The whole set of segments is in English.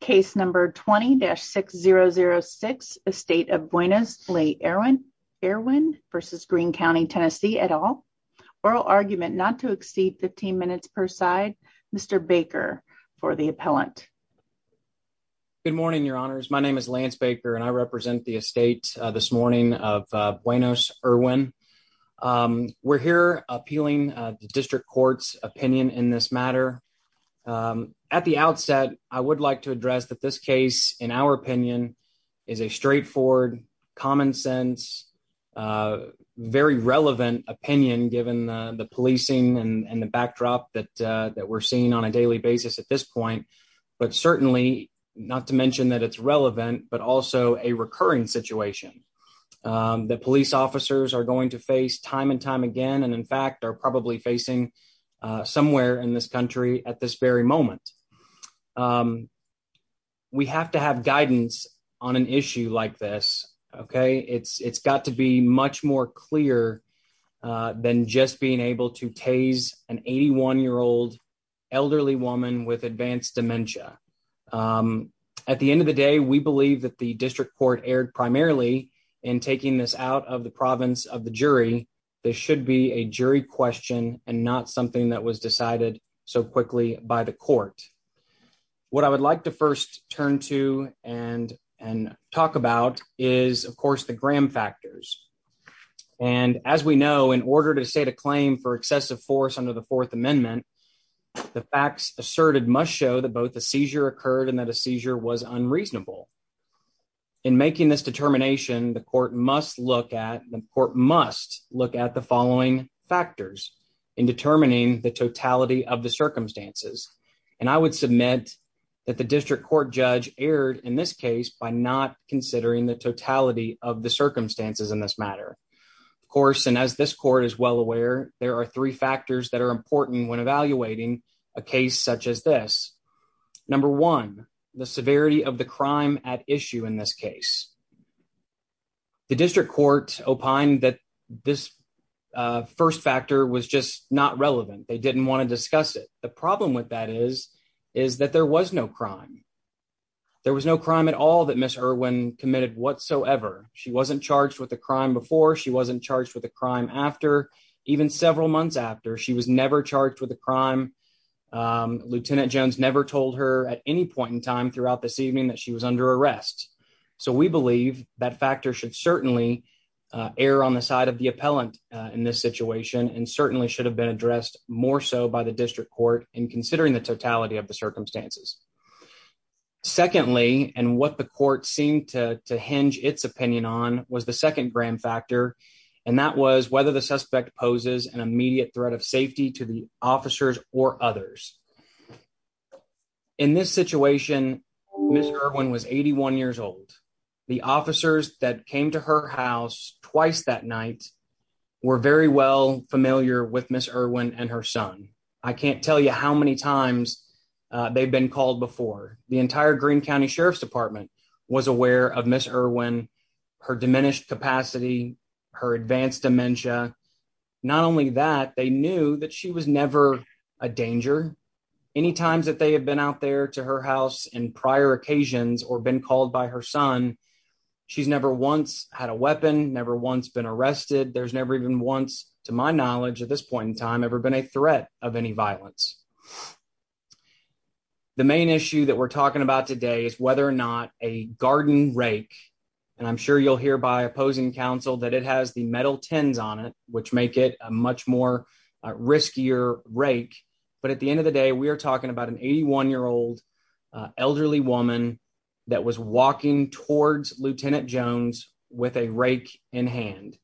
Case number 20-6006 Estate of Beunos Lee Erwin v. Greene County TN et al. Oral argument not to exceed 15 minutes per side. Mr. Baker for the appellant. Good morning, your honors. My name is Lance Baker and I represent the estate this morning of Beunos Erwin. We're here appealing the district court's opinion in this matter. At the outset, I would like to address that this case, in our opinion, is a straightforward, common sense, very relevant opinion given the policing and the backdrop that we're seeing on a daily basis at this point. But certainly, not to mention that it's relevant, but also a recurring situation that police officers are going to face time and time again, and in fact, are probably facing somewhere in this country at this very moment. We have to have guidance on an issue like this, okay? It's got to be much more clear than just being able to tase an 81-year-old elderly woman with advanced dementia. At the end of the day, we believe that the district court erred primarily in taking this out of the province of the jury. This should be a jury question and not something that was decided so quickly by the court. What I would like to first turn to and talk about is, of course, the Graham factors. And as we know, in order to state a claim for excessive force under the Fourth Amendment, the facts asserted must show that both the seizure occurred and that a seizure was unreasonable. In making this determination, the court must look at the following factors in determining the totality of the circumstances. And I would submit that the district court judge erred in this case by not considering the totality of the circumstances in this matter. Of course, and as this court is well aware, there are three factors that are important when evaluating a case such as this. Number one, the severity of the crime at issue in this case. The district court opined that this first factor was just not relevant. They didn't want to discuss it. The problem with that is, is that there was no crime. There was no crime at all that Ms. Irwin committed whatsoever. She wasn't charged with the crime before. She wasn't charged with a crime after. Even several months after, she was never charged with a crime. Lieutenant Jones never told her at any point in time throughout this evening that she was under arrest. So we believe that factor should certainly err on the side of the appellant in this situation and certainly should have been addressed more so by the district court in considering the totality of the circumstances. Secondly, and what the court seemed to hinge its opinion on, was the second grand factor and that was whether the suspect poses an immediate threat of safety to the officers or others. In this situation, Ms. Irwin was 81 years old. The officers that came to her house twice that night were very well familiar with Ms. Irwin and her son. I can't tell you how many times they've been called before. The entire Greene County Sheriff's was aware of Ms. Irwin, her diminished capacity, her advanced dementia. Not only that, they knew that she was never a danger. Any times that they have been out there to her house in prior occasions or been called by her son, she's never once had a weapon, never once been arrested. There's never even once, to my knowledge at this point in time, ever been a threat of any violence. The main issue that we're talking about today is whether or not a garden rake, and I'm sure you'll hear by opposing counsel that it has the metal tins on it, which make it a much more riskier rake. But at the end of the day, we are talking about an 81-year-old elderly woman that was walking towards Lieutenant Jones with a rake in hand.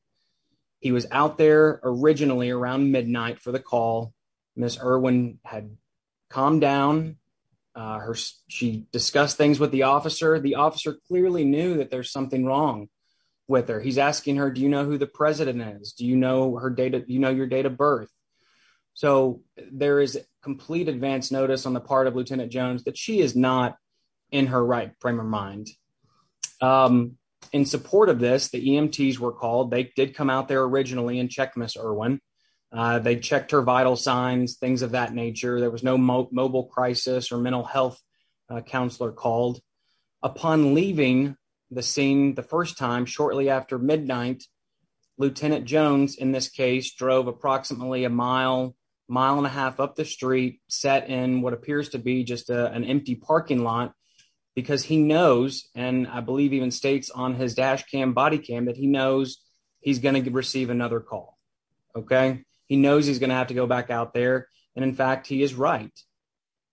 He was out there originally around midnight for the call. Ms. Irwin had calmed down. She discussed things with the officer. The officer clearly knew that there's something wrong with her. He's asking her, do you know who the president is? Do you know your date of birth? So there is complete advance notice on the part of Lieutenant Jones that she is not in her right frame of mind. In support of this, the EMTs were vital signs, things of that nature. There was no mobile crisis or mental health counselor called. Upon leaving the scene the first time, shortly after midnight, Lieutenant Jones, in this case, drove approximately a mile, mile and a half up the street, sat in what appears to be just an empty parking lot because he knows, and I believe even states on his dash cam, body cam, that he is going to have to go back out there. In fact, he is right.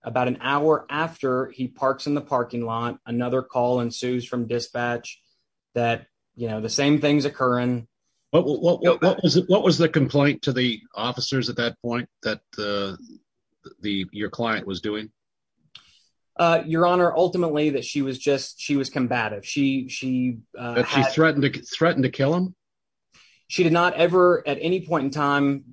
About an hour after he parks in the parking lot, another call ensues from dispatch that the same thing is occurring. What was the complaint to the officers at that point that your client was doing? Your Honor, ultimately, that she was combative. That she threatened to kill him? She did not ever at any point in time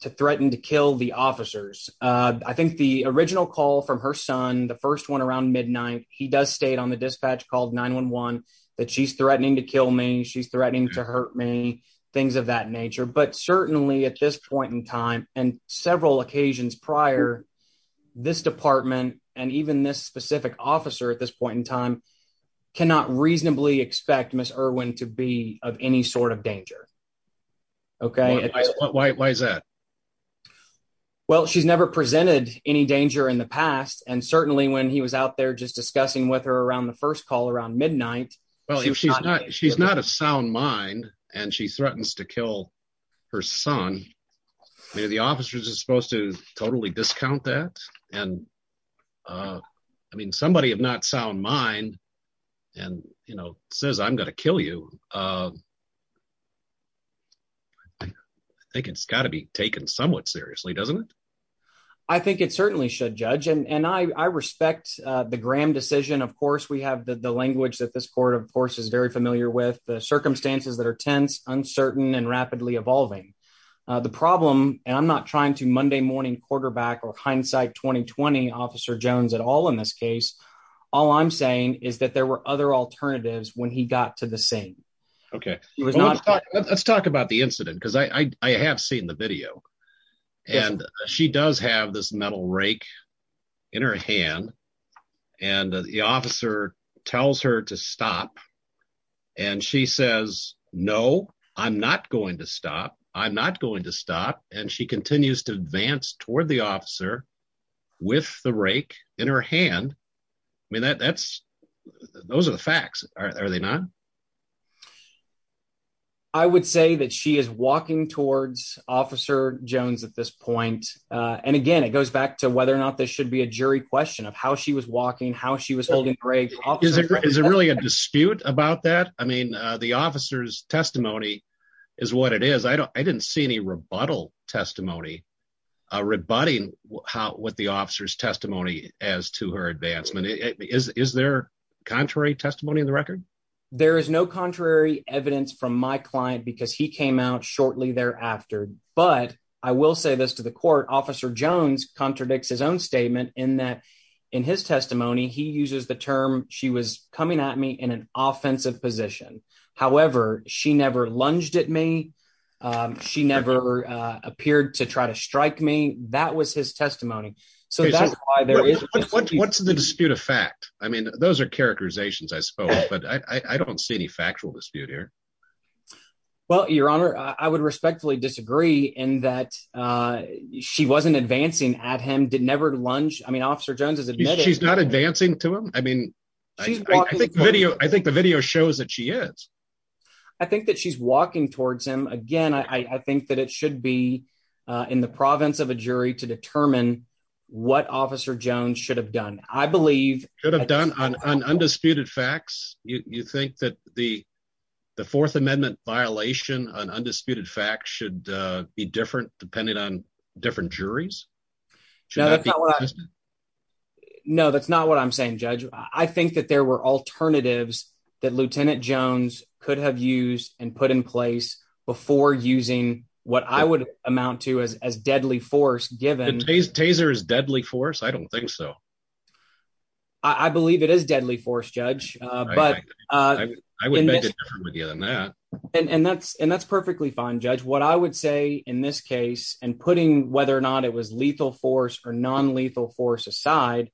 threaten to kill the officers. I think the original call from her son, the first one around midnight, he does state on the dispatch call 9-1-1 that she's threatening to kill me, she's threatening to hurt me, things of that nature. But certainly at this point in time and several occasions prior, this department and even this specific officer at this point in time cannot reasonably expect Ms. Irwin to be of any sort of danger. Why is that? Well, she's never presented any danger in the past and certainly when he was out there just discussing with her around the first call around midnight. Well, she's not a sound mind and she threatens to kill her son. I mean, are the officers supposed to totally discount that? I mean, somebody of not sound mind and says, I'm going to kill you. I think it's got to be taken somewhat seriously, doesn't it? I think it certainly should, Judge. And I respect the Graham decision. Of course, we have the language that this court, of course, is very familiar with. The circumstances that are tense, uncertain, and rapidly evolving. The problem, and I'm not trying to Monday morning quarterback or hindsight 2020 Officer Jones at all in this case. All I'm saying is that there were other alternatives when he got to the scene. Okay. Let's talk about the incident because I have seen the video and she does have this metal rake in her hand and the officer tells her to stop. And she says, no, I'm not going to stop. I'm not going to stop. And she continues to advance toward the officer with the rake in her hand. I mean, that's those are the facts. Are they not? I would say that she is walking towards Officer Jones at this point. And again, it goes back to whether or not there should be a jury question of how she was walking, how she was holding brave. Is it really a dispute about that? I mean, the officer's testimony is what it is. I don't I didn't see any rebuttal testimony rebutting what the officer's testimony as to her advancement. Is there contrary testimony in the record? There is no contrary evidence from my client because he came out shortly thereafter. But I will say this to the court. Officer Jones contradicts his statement in that in his testimony, he uses the term she was coming at me in an offensive position. However, she never lunged at me. She never appeared to try to strike me. That was his testimony. So that's why there is what's in the dispute of fact. I mean, those are characterizations, I suppose. But I don't see any factual dispute here. Well, Your Honor, I would respectfully disagree in that she wasn't advancing at him, did never lunge. I mean, Officer Jones is admitted. She's not advancing to him. I mean, I think video I think the video shows that she is. I think that she's walking towards him again. I think that it should be in the province of a jury to determine what Officer Jones should have done. I believe should have done on undisputed facts. You think that the the Fourth Amendment violation on undisputed facts should be different depending on different juries? No, that's not what I'm saying, Judge. I think that there were alternatives that Lieutenant Jones could have used and put in place before using what I would amount to as deadly force given taser is deadly force. I don't think so. I believe it is deadly force, Judge. But I would make it different with you than that. And that's and that's perfectly fine. Judge, what I would say in this case, and putting whether or not it was lethal force or nonlethal force aside,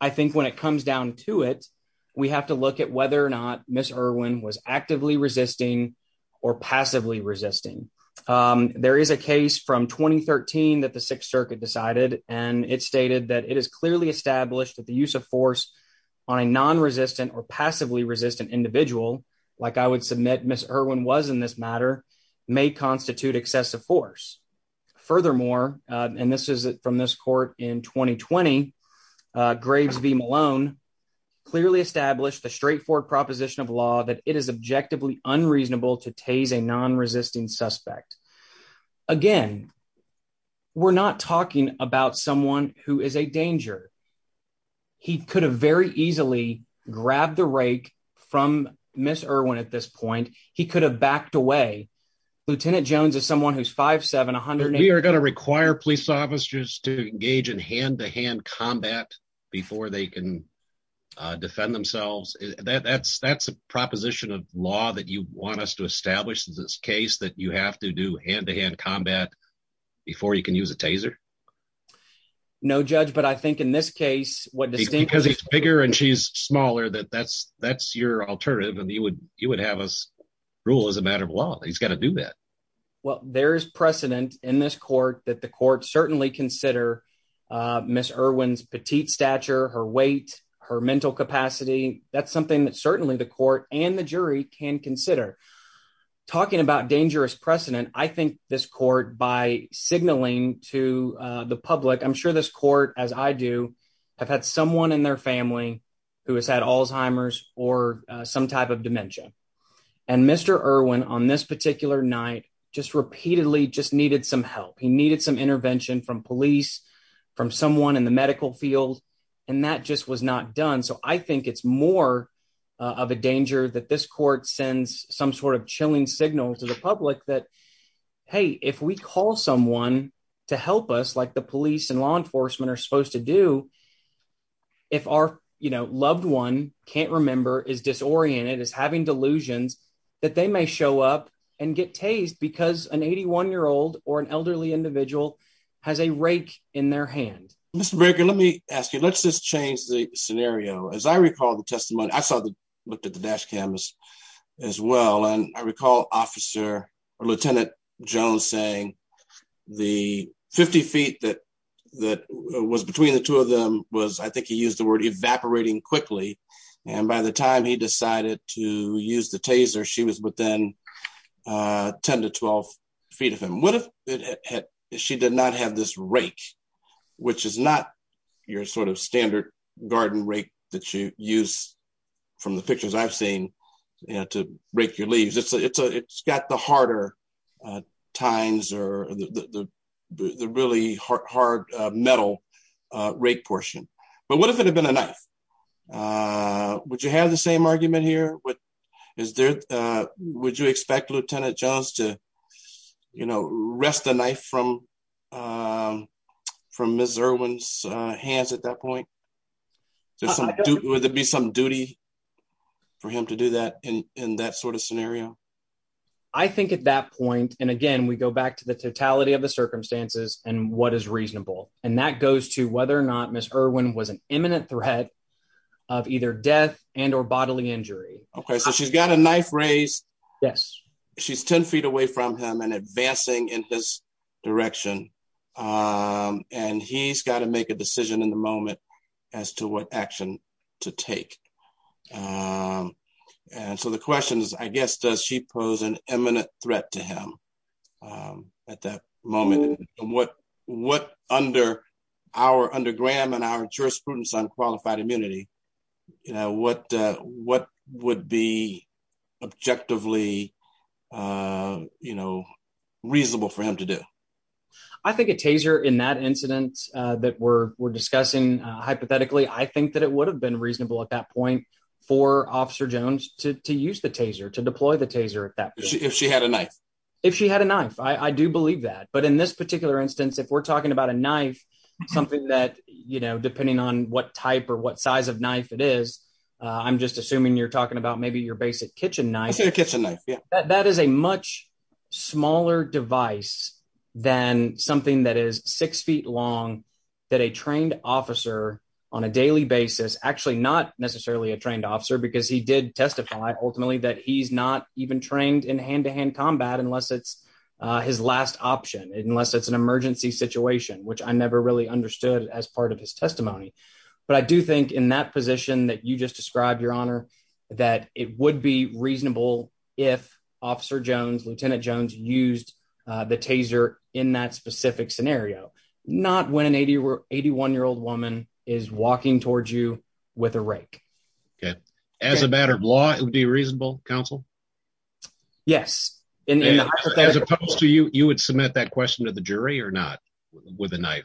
I think when it comes down to it, we have to look at whether or not Miss Irwin was actively resisting or passively resisting. There is a case from 2013 that the Sixth Circuit decided, and it stated that it is clearly established that the use of force on a nonresistant or passively resistant individual, like I would submit Miss Irwin was in this matter, may constitute excessive force. Furthermore, and this is from this court in 2020, Graves v. Malone clearly established the proposition of law that it is objectively unreasonable to tase a nonresisting suspect. Again, we're not talking about someone who is a danger. He could have very easily grabbed the rake from Miss Irwin at this point. He could have backed away. Lieutenant Jones is someone who's 5'7". We are going to require police officers to engage in hand-to-hand combat before they can defend themselves. That's a proposition of law that you want us to establish in this case, that you have to do hand-to-hand combat before you can use a taser? No, Judge, but I think in this case, what distinguishes... Because he's bigger and she's smaller, that's your alternative, and you would have us rule as a matter of law. He's got to do that. Well, there is precedent in this court that the court certainly consider Miss Irwin's petite stature, her weight, her mental capacity. That's something that certainly the court and the jury can consider. Talking about dangerous precedent, I think this court, by signaling to the public, I'm sure this court, as I do, have had someone in their family who has had Alzheimer's or some type of dementia, and Mr. Irwin on this particular night just repeatedly just needed some help. He needed some intervention from police, from someone in the medical field, and that just was not done. So I think it's more of a danger that this court sends some sort of chilling signal to the public that, hey, if we call someone to help us like the police and law enforcement are supposed to do, if our loved one can't remember, is disoriented, is having delusions, that they may show up and get tased because an 81-year-old or an elderly individual has a rake in their hand. Mr. Baker, let me ask you, let's just change the scenario. As I recall the testimony, I looked at the dash cams as well, and I recall Officer or Lieutenant Jones saying the 50 feet that was between the two of them was, I think he used the word evaporating quickly, and by the time he decided to use the taser, she was within 10 to 12 feet of him. What if she did not have this rake, which is not your sort of standard garden rake that you use from the pictures I've seen to rake your leaves. It's got the harder tines or the really hard metal rake portion, but what if it had been a knife? Would you have the same argument here? Would you expect Lieutenant Jones to rest the knife from Ms. Irwin's hands at that point? Would there be some duty for him to do that in that sort of scenario? I think at that point, and again, we go back to the totality of the circumstances and what is reasonable, and that goes to whether or not Ms. Irwin was an imminent threat of either death and or bodily injury. Okay, so she's got a knife raised. Yes. She's 10 feet away from him and advancing in his direction, and he's got to make a decision in the moment as to what action to take. And so the question is, I guess, does she pose an imminent threat to him at that moment? And what under Graham and our jurisprudence on qualified immunity, what would be objectively reasonable for him to do? I think a taser in that incident that we're discussing, hypothetically, I think that it would have been reasonable at that point for Officer Jones to use the taser, to deploy the knife. I do believe that. But in this particular instance, if we're talking about a knife, something that, depending on what type or what size of knife it is, I'm just assuming you're talking about maybe your basic kitchen knife. A kitchen knife, yeah. That is a much smaller device than something that is six feet long that a trained officer on a daily basis, actually not necessarily a trained officer because he did testify, ultimately, that he's not even trained in hand-to-hand combat unless it's his last option, unless it's an emergency situation, which I never really understood as part of his testimony. But I do think in that position that you just described, Your Honor, that it would be reasonable if Officer Jones, Lieutenant Jones, used the taser in that specific scenario, not when an 81-year-old woman is walking towards you with a rake. Okay. As a matter of law, it would be reasonable, counsel? Yes. As opposed to you, you would submit that question to the jury or not with a knife?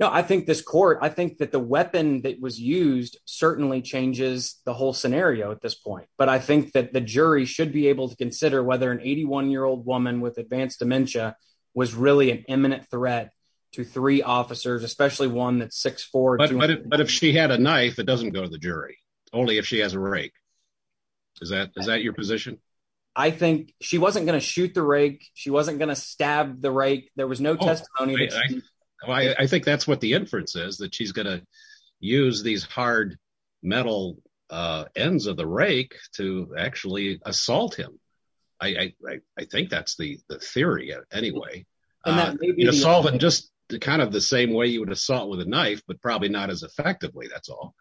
No, I think this court, I think that the weapon that was used certainly changes the whole scenario at this point. But I think that the jury should be able to consider whether an 81-year-old woman with advanced dementia was really an imminent threat to three officers, especially one that's But if she had a knife, it doesn't go to the jury, only if she has a rake. Is that your position? I think she wasn't going to shoot the rake. She wasn't going to stab the rake. There was no testimony. I think that's what the inference is, that she's going to use these hard metal ends of the rake to actually assault him. I think that's the theory anyway. Assault just kind of the same way you would assault with a knife, but probably not as effectively, that's all.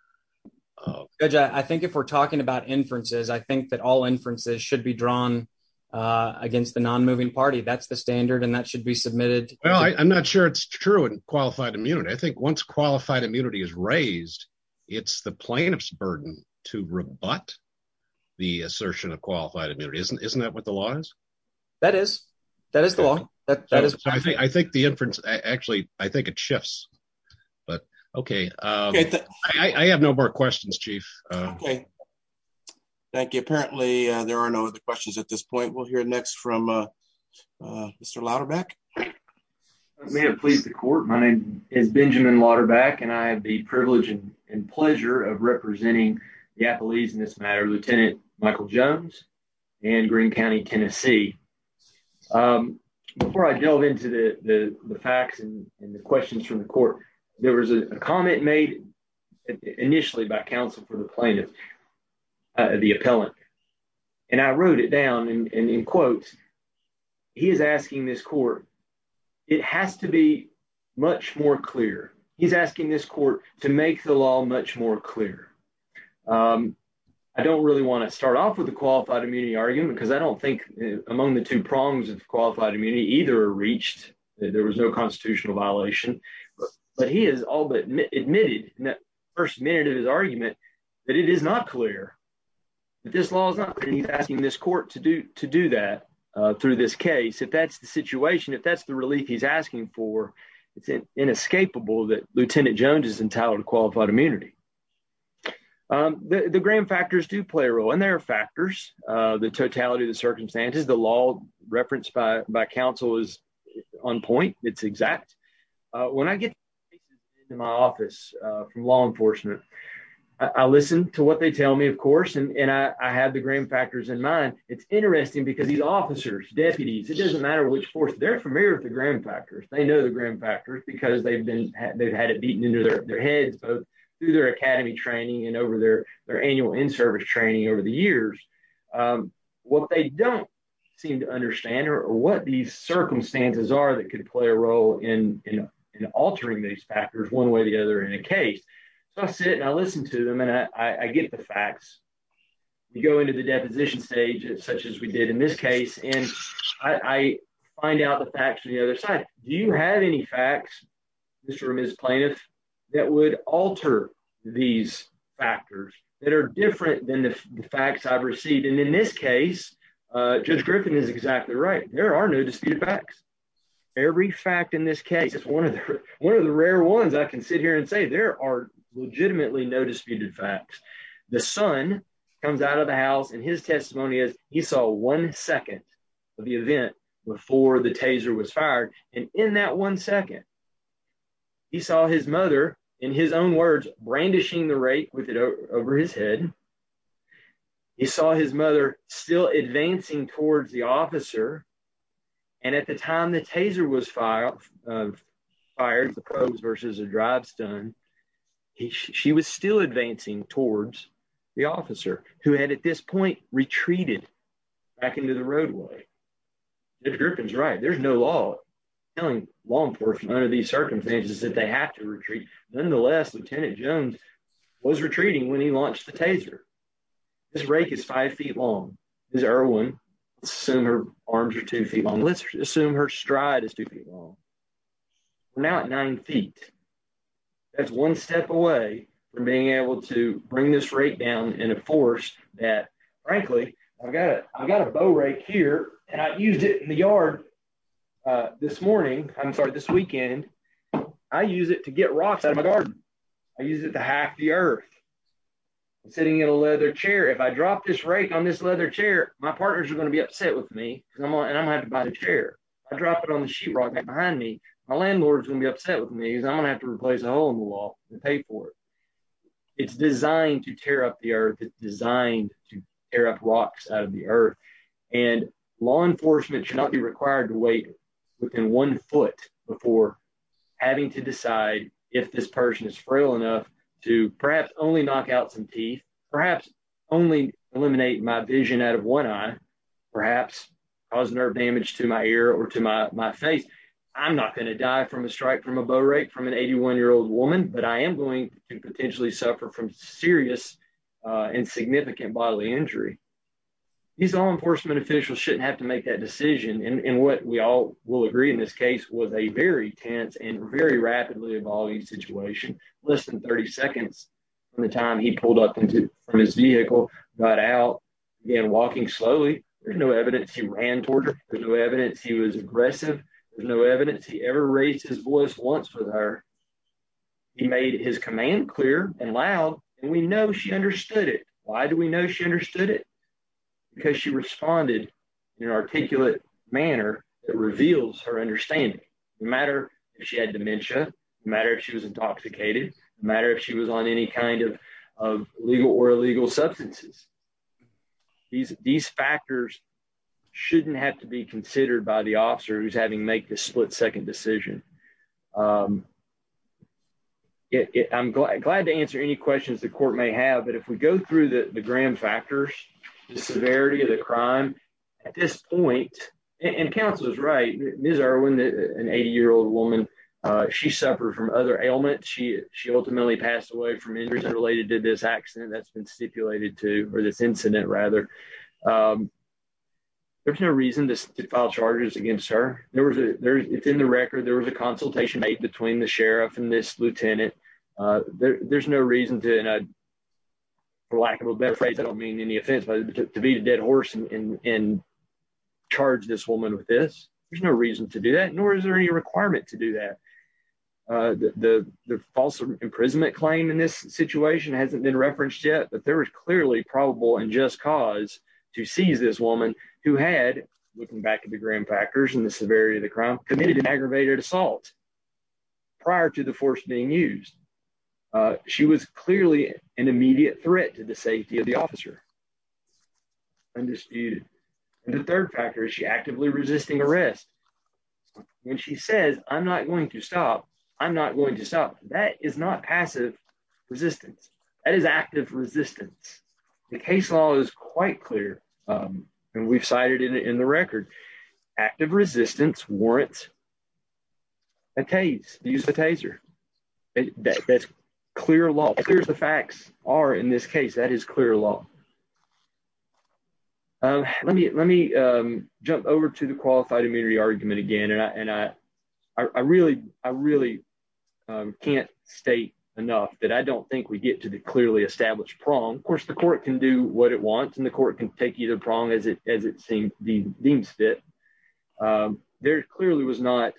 Judge, I think if we're talking about inferences, I think that all inferences should be drawn against the non-moving party. That's the standard and that should be submitted. Well, I'm not sure it's true in qualified immunity. I think once qualified immunity is raised, it's the plaintiff's burden to rebut the assertion of qualified immunity. Isn't that what the law is? That is. That is the law. I think the inference actually, I think it shifts, but okay. I have no more questions, Chief. Thank you. Apparently, there are no other questions at this point. We'll hear next from Mr. Lauderback. May it please the court. My name is Benjamin Lauderback and I have the privilege and pleasure of representing the appellees in this matter, Lieutenant Michael Jones and Greene County, Tennessee. Before I delve into the facts and the questions from the court, there was a comment made initially by counsel for the plaintiff, the appellant, and I wrote it down and in quotes, he is asking this court, it has to be much more clear. He's asking this court to make the law much more clear. I don't really want to start off with the qualified immunity argument because I don't think among the two prongs of qualified immunity either reached that there was no constitutional violation, but he has all but admitted in that first minute of his argument that it is not clear, that this law is not clear. He's asking this court to do that through this case. If that's the situation, if that's the inescapable that Lieutenant Jones is entitled to qualified immunity. The gram factors do play a role and there are factors. The totality of the circumstances, the law referenced by counsel is on point, it's exact. When I get to my office from law enforcement, I listen to what they tell me, of course, and I have the gram factors in mind. It's interesting because these officers, deputies, it doesn't matter which force, they're familiar with the gram factors. They know the gram factors because they've had it beaten into their heads, both through their academy training and over their annual in-service training over the years. What they don't seem to understand or what these circumstances are that could play a role in altering these factors one way or the other in a case. I sit and I listen to them and I get the Do you have any facts, Mr. or Ms. Plaintiff, that would alter these factors that are different than the facts I've received? In this case, Judge Griffin is exactly right. There are no disputed facts. Every fact in this case is one of the rare ones I can sit here and say there are legitimately no disputed facts. The son comes out of the house and his testimony is he saw one Taser was fired and in that one second, he saw his mother, in his own words, brandishing the rake with it over his head. He saw his mother still advancing towards the officer and at the time the Taser was fired, the probes versus a drive stun, she was still advancing towards the officer who had at this point retreated back into the roadway. Judge Griffin's right. There's no law telling law enforcement under these circumstances that they have to retreat. Nonetheless, Lieutenant Jones was retreating when he launched the Taser. This rake is five feet long. This is Irwin. Let's assume her arms are two feet long. Let's assume her stride is two feet long. We're now at nine feet. That's one step away from being able to bring this rake down in a forest that, frankly, I've got a bow rake here and I used it in the yard this morning, I'm sorry, this weekend. I use it to get rocks out of my garden. I use it to hack the earth. I'm sitting in a leather chair. If I drop this rake on this leather chair, my partners are going to be upset with me and I'm having to buy the chair. I drop it on the sheetrock back behind me, my landlord's going to be upset with me because I'm going to have to replace a hole in the wall to pay for it. It's designed to tear up the earth. It's designed to tear up rocks out of the earth. Law enforcement should not be required to wait within one foot before having to decide if this person is frail enough to perhaps only knock out some teeth, perhaps only eliminate my vision out of one eye, perhaps cause nerve rake from an 81-year-old woman, but I am going to potentially suffer from serious and significant bodily injury. These law enforcement officials shouldn't have to make that decision and what we all will agree in this case was a very tense and very rapidly evolving situation. Less than 30 seconds from the time he pulled up from his vehicle, got out again walking slowly. There's no evidence he ran toward her. There's no evidence he was aggressive. There's no evidence he ever raised his voice once with her. He made his command clear and loud and we know she understood it. Why do we know she understood it? Because she responded in an articulate manner that reveals her understanding. No matter if she had dementia, no matter if she was intoxicated, no matter if she was on any kind of legal or illegal substances. These factors shouldn't have to be considered by the officer who's having make this split-second decision. I'm glad to answer any questions the court may have, but if we go through the the grand factors, the severity of the crime at this point, and counsel is right, Ms. Irwin, an 80-year-old woman, she suffered from other ailments. She ultimately passed away from injuries related to this accident that's been stipulated to or this incident rather. There's no reason to file charges against her. There was a it's in the record there was a consultation made between the sheriff and this lieutenant. There's no reason to, for lack of a better phrase, I don't mean any offense, but to beat a dead horse and charge this woman with this. There's no reason to do that, nor is there any requirement to do that. The false imprisonment claim in this situation hasn't been referenced yet, but there was clearly probable and just cause to seize this woman who had, looking back to the grand factors and the severity of the crime, committed an aggravated assault prior to the force being used. She was clearly an immediate threat to the safety of the officer, undisputed. The third factor is she actively resisting arrest. When she says, I'm not going to stop, I'm not going to stop, that is not passive resistance. That is active resistance. The case law is quite clear and we've cited it in the record. Active resistance warrants a tase, use a taser. That's clear law. Clear as the facts are in this case, that is clear law. Let me jump over to the state enough that I don't think we get to the clearly established prong. Of course, the court can do what it wants and the court can take you to the prong as it seems deems fit. There clearly was not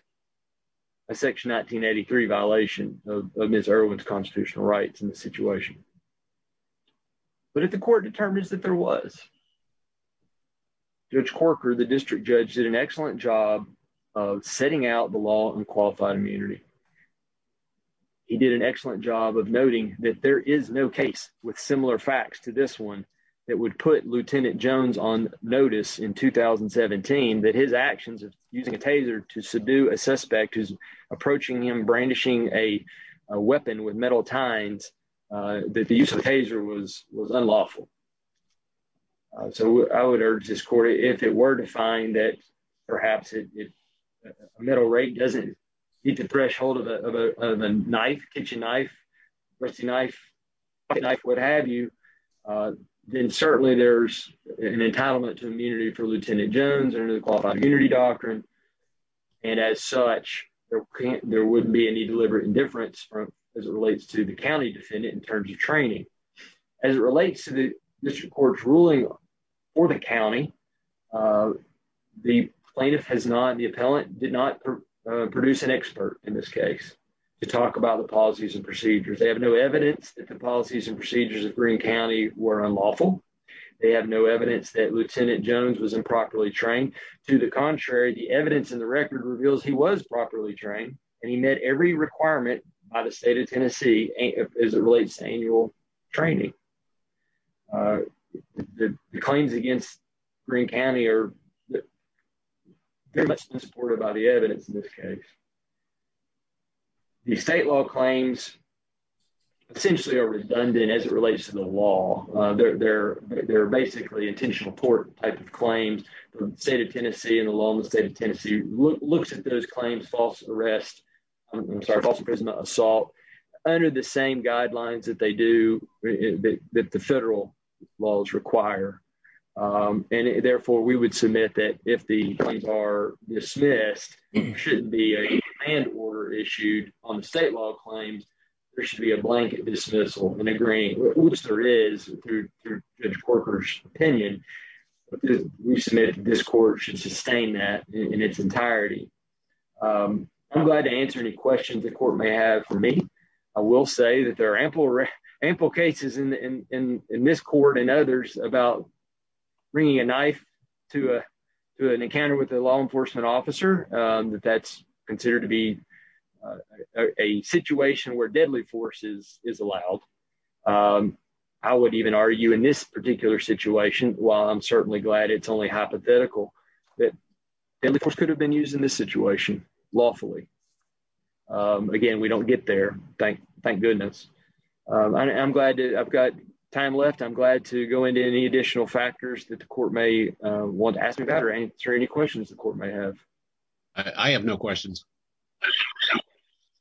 a section 1983 violation of Ms. Irwin's constitutional rights in the situation, but if the court determines that there was, Judge Corker, the district judge, did an excellent job of setting out the law on qualified immunity. He did an excellent job of noting that there is no case with similar facts to this one that would put Lieutenant Jones on notice in 2017 that his actions of using a taser to subdue a suspect who's approaching him brandishing a weapon with metal tines, that the use of the taser was unlawful. So I would urge this court, if it were to find that perhaps a metal rake doesn't meet the threshold of a knife, kitchen knife, rusty knife, pocket knife, what have you, then certainly there's an entitlement to immunity for Lieutenant Jones under the qualified immunity doctrine. And as such, there wouldn't be any deliberate indifference as it relates to the county defendant in terms of training. As it relates to the district court's or the county, the plaintiff has not, the appellant did not produce an expert in this case to talk about the policies and procedures. They have no evidence that the policies and procedures of Greene County were unlawful. They have no evidence that Lieutenant Jones was improperly trained. To the contrary, the evidence in the record reveals he was properly trained and he met every requirement by the state of Tennessee as it relates to annual training. The claims against Greene County are very much unsupported by the evidence in this case. The state law claims essentially are redundant as it relates to the law. They're basically intentional port type of claims from the state of Tennessee and the law in the state of Tennessee looks at those claims, false arrest, I'm sorry, false imprisonment, assault, under the same that they do, that the federal laws require. And therefore, we would submit that if the claims are dismissed, there shouldn't be a command order issued on the state law claims. There should be a blanket dismissal in agreeing, which there is through Judge Corker's opinion. We submit that this court should sustain that in its entirety. I'm glad to answer any questions the court may have for me. I will say that there are ample cases in this court and others about bringing a knife to an encounter with a law enforcement officer, that that's considered to be a situation where deadly force is allowed. I would even argue in this particular situation, while I'm certainly glad it's only hypothetical, that deadly force could have been used in this way unlawfully. Again, we don't get there. Thank goodness. I'm glad I've got time left. I'm glad to go into any additional factors that the court may want to ask me about or answer any questions the court may have. I have no questions.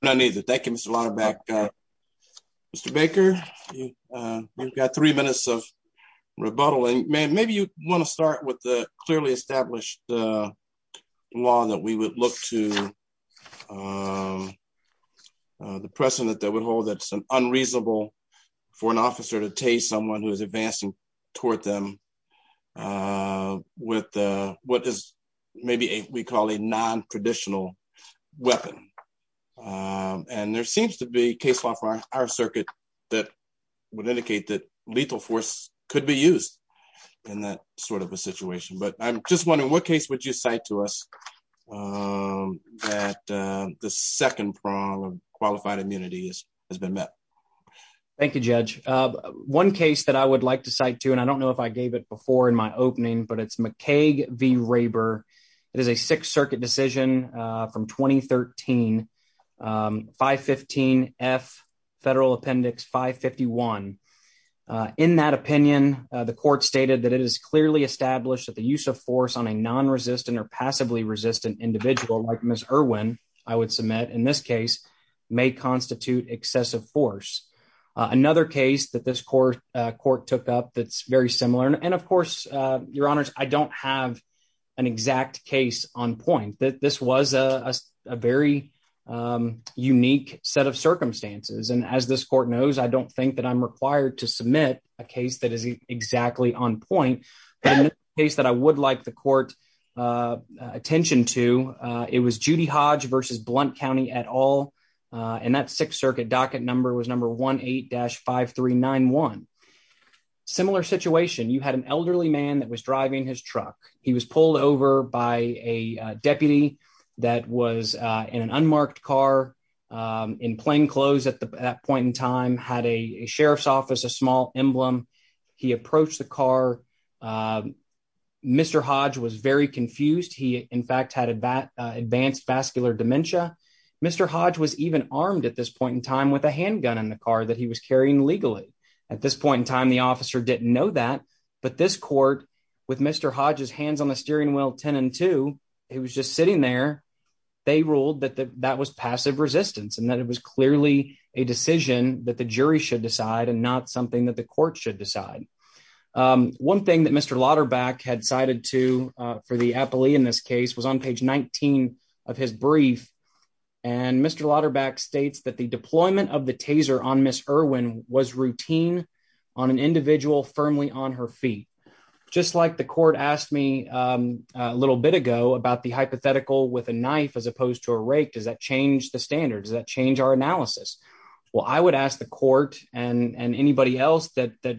None either. Thank you, Mr. Lauderback. Mr. Baker, you've got three minutes of rebuttal and maybe you want to start with the clearly established law that we look to the precedent that would hold that it's unreasonable for an officer to tase someone who is advancing toward them with what is maybe we call a non-traditional weapon. There seems to be case law for our circuit that would indicate that lethal force could be used in that sort of way. The second prong of qualified immunity has been met. Thank you, Judge. One case that I would like to cite too, and I don't know if I gave it before in my opening, but it's McCaig v. Raber. It is a Sixth Circuit decision from 2013, 515F, Federal Appendix 551. In that opinion, the court stated that it is clearly established that the use of force on a non-resistant or passively-resistant individual like Ms. Irwin, I would submit in this case, may constitute excessive force. Another case that this court took up that's very similar, and of course, your honors, I don't have an exact case on point. This was a very unique set of circumstances, and as this court knows, I don't think that I'm required to submit a case that is exactly on point. But another case that I would like the court's attention to, it was Judy Hodge v. Blount County et al. And that Sixth Circuit docket number was number 18-5391. Similar situation, you had an elderly man that was driving his truck. He was pulled over by a deputy that was in an unmarked car, in plain clothes at that point in time, had a sheriff's office, a small emblem. He approached the car. Mr. Hodge was very confused. He, in fact, had advanced vascular dementia. Mr. Hodge was even armed at this point in time with a handgun in the car that he was carrying legally. At this point in time, the officer didn't know that. But this court, with Mr. Hodge's hands on the steering wheel, 10 and 2, he was just sitting there. They ruled that that was passive resistance and that it was clearly a decision that the jury should decide and not something that the court should decide. One thing that Mr. Lauterbach had cited to, for the appellee in this case, was on page 19 of his brief. And Mr. Lauterbach states that the deployment of the taser on Ms. Irwin was routine on an individual firmly on her feet. Just like the court asked me a little bit ago about the hypothetical with a knife as opposed to a rake, does that change the standards? Does that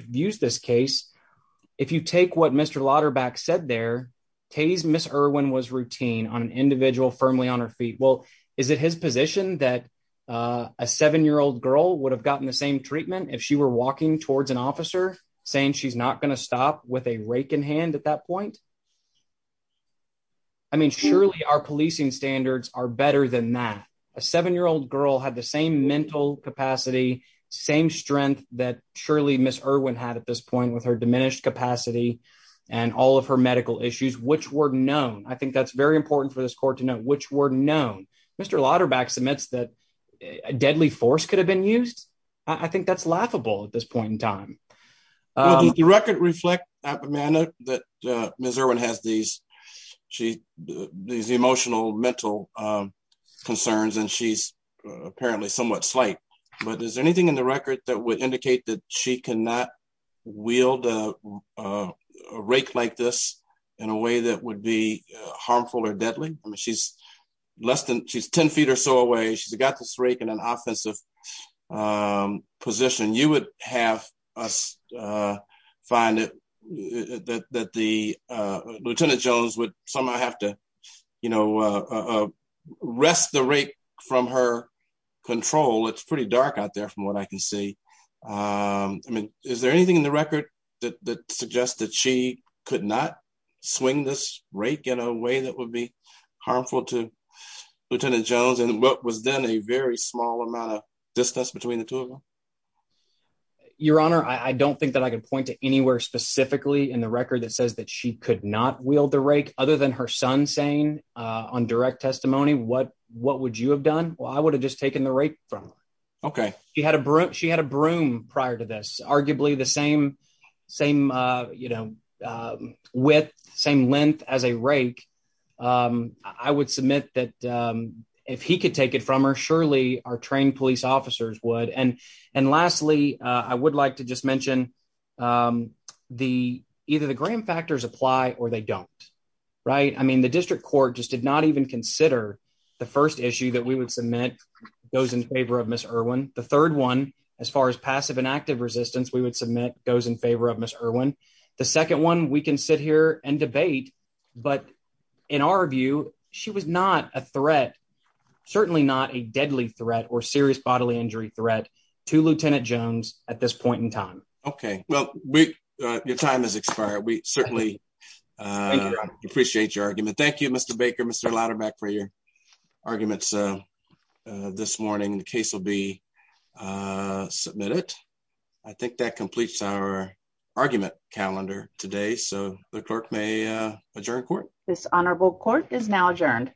use this case? If you take what Mr. Lauterbach said there, tase Ms. Irwin was routine on an individual firmly on her feet. Well, is it his position that a seven-year-old girl would have gotten the same treatment if she were walking towards an officer saying she's not going to stop with a rake in hand at that point? I mean, surely our policing standards are better than that. A seven-year-old girl had the same capacity, same strength that surely Ms. Irwin had at this point with her diminished capacity and all of her medical issues, which were known. I think that's very important for this court to know, which were known. Mr. Lauterbach submits that a deadly force could have been used. I think that's laughable at this point in time. Well, did the record reflect that Ms. Irwin has these emotional mental concerns and she's apparently somewhat slight, but is there anything in the record that would indicate that she cannot wield a rake like this in a way that would be harmful or deadly? I mean, she's 10 feet or so away. She's got this rake in an offensive position. You would have us find that Lieutenant Jones would somehow have to wrest the rake from her control. It's pretty dark out there from what I can see. I mean, is there anything in the record that suggests that she could not swing this rake in a way that would be harmful to Lieutenant Jones and what was then a very small amount of distance between the two of them? Your Honor, I don't think that I can point to anywhere specifically in the record that says that she could not wield the rake, other than her son saying on direct testimony, what would you have done? Well, I would have just taken the rake from her. Okay. She had a broom prior to this, arguably the same width, same length as a rake. I would submit that if he could take it from her, surely our trained police officers would. And lastly, I would like to just mention either the Graham factors apply or they don't. Right? I mean, the district court just did not even consider the first issue that we would submit goes in favor of Ms. Irwin. The third one, as far as passive and active resistance, we would submit goes in favor of Ms. Irwin. The second one we can sit here and debate, but in our view, she was not a threat, certainly not a deadly threat or serious bodily injury threat to Lieutenant Jones at this point in time. Okay. Well, your time has expired. We certainly appreciate your argument. Thank you, Mr. Baker, Mr. Lauterbach for your arguments this morning. The case will be submitted. I think that completes our argument calendar today. So the clerk may adjourn court. This honorable court is now adjourned.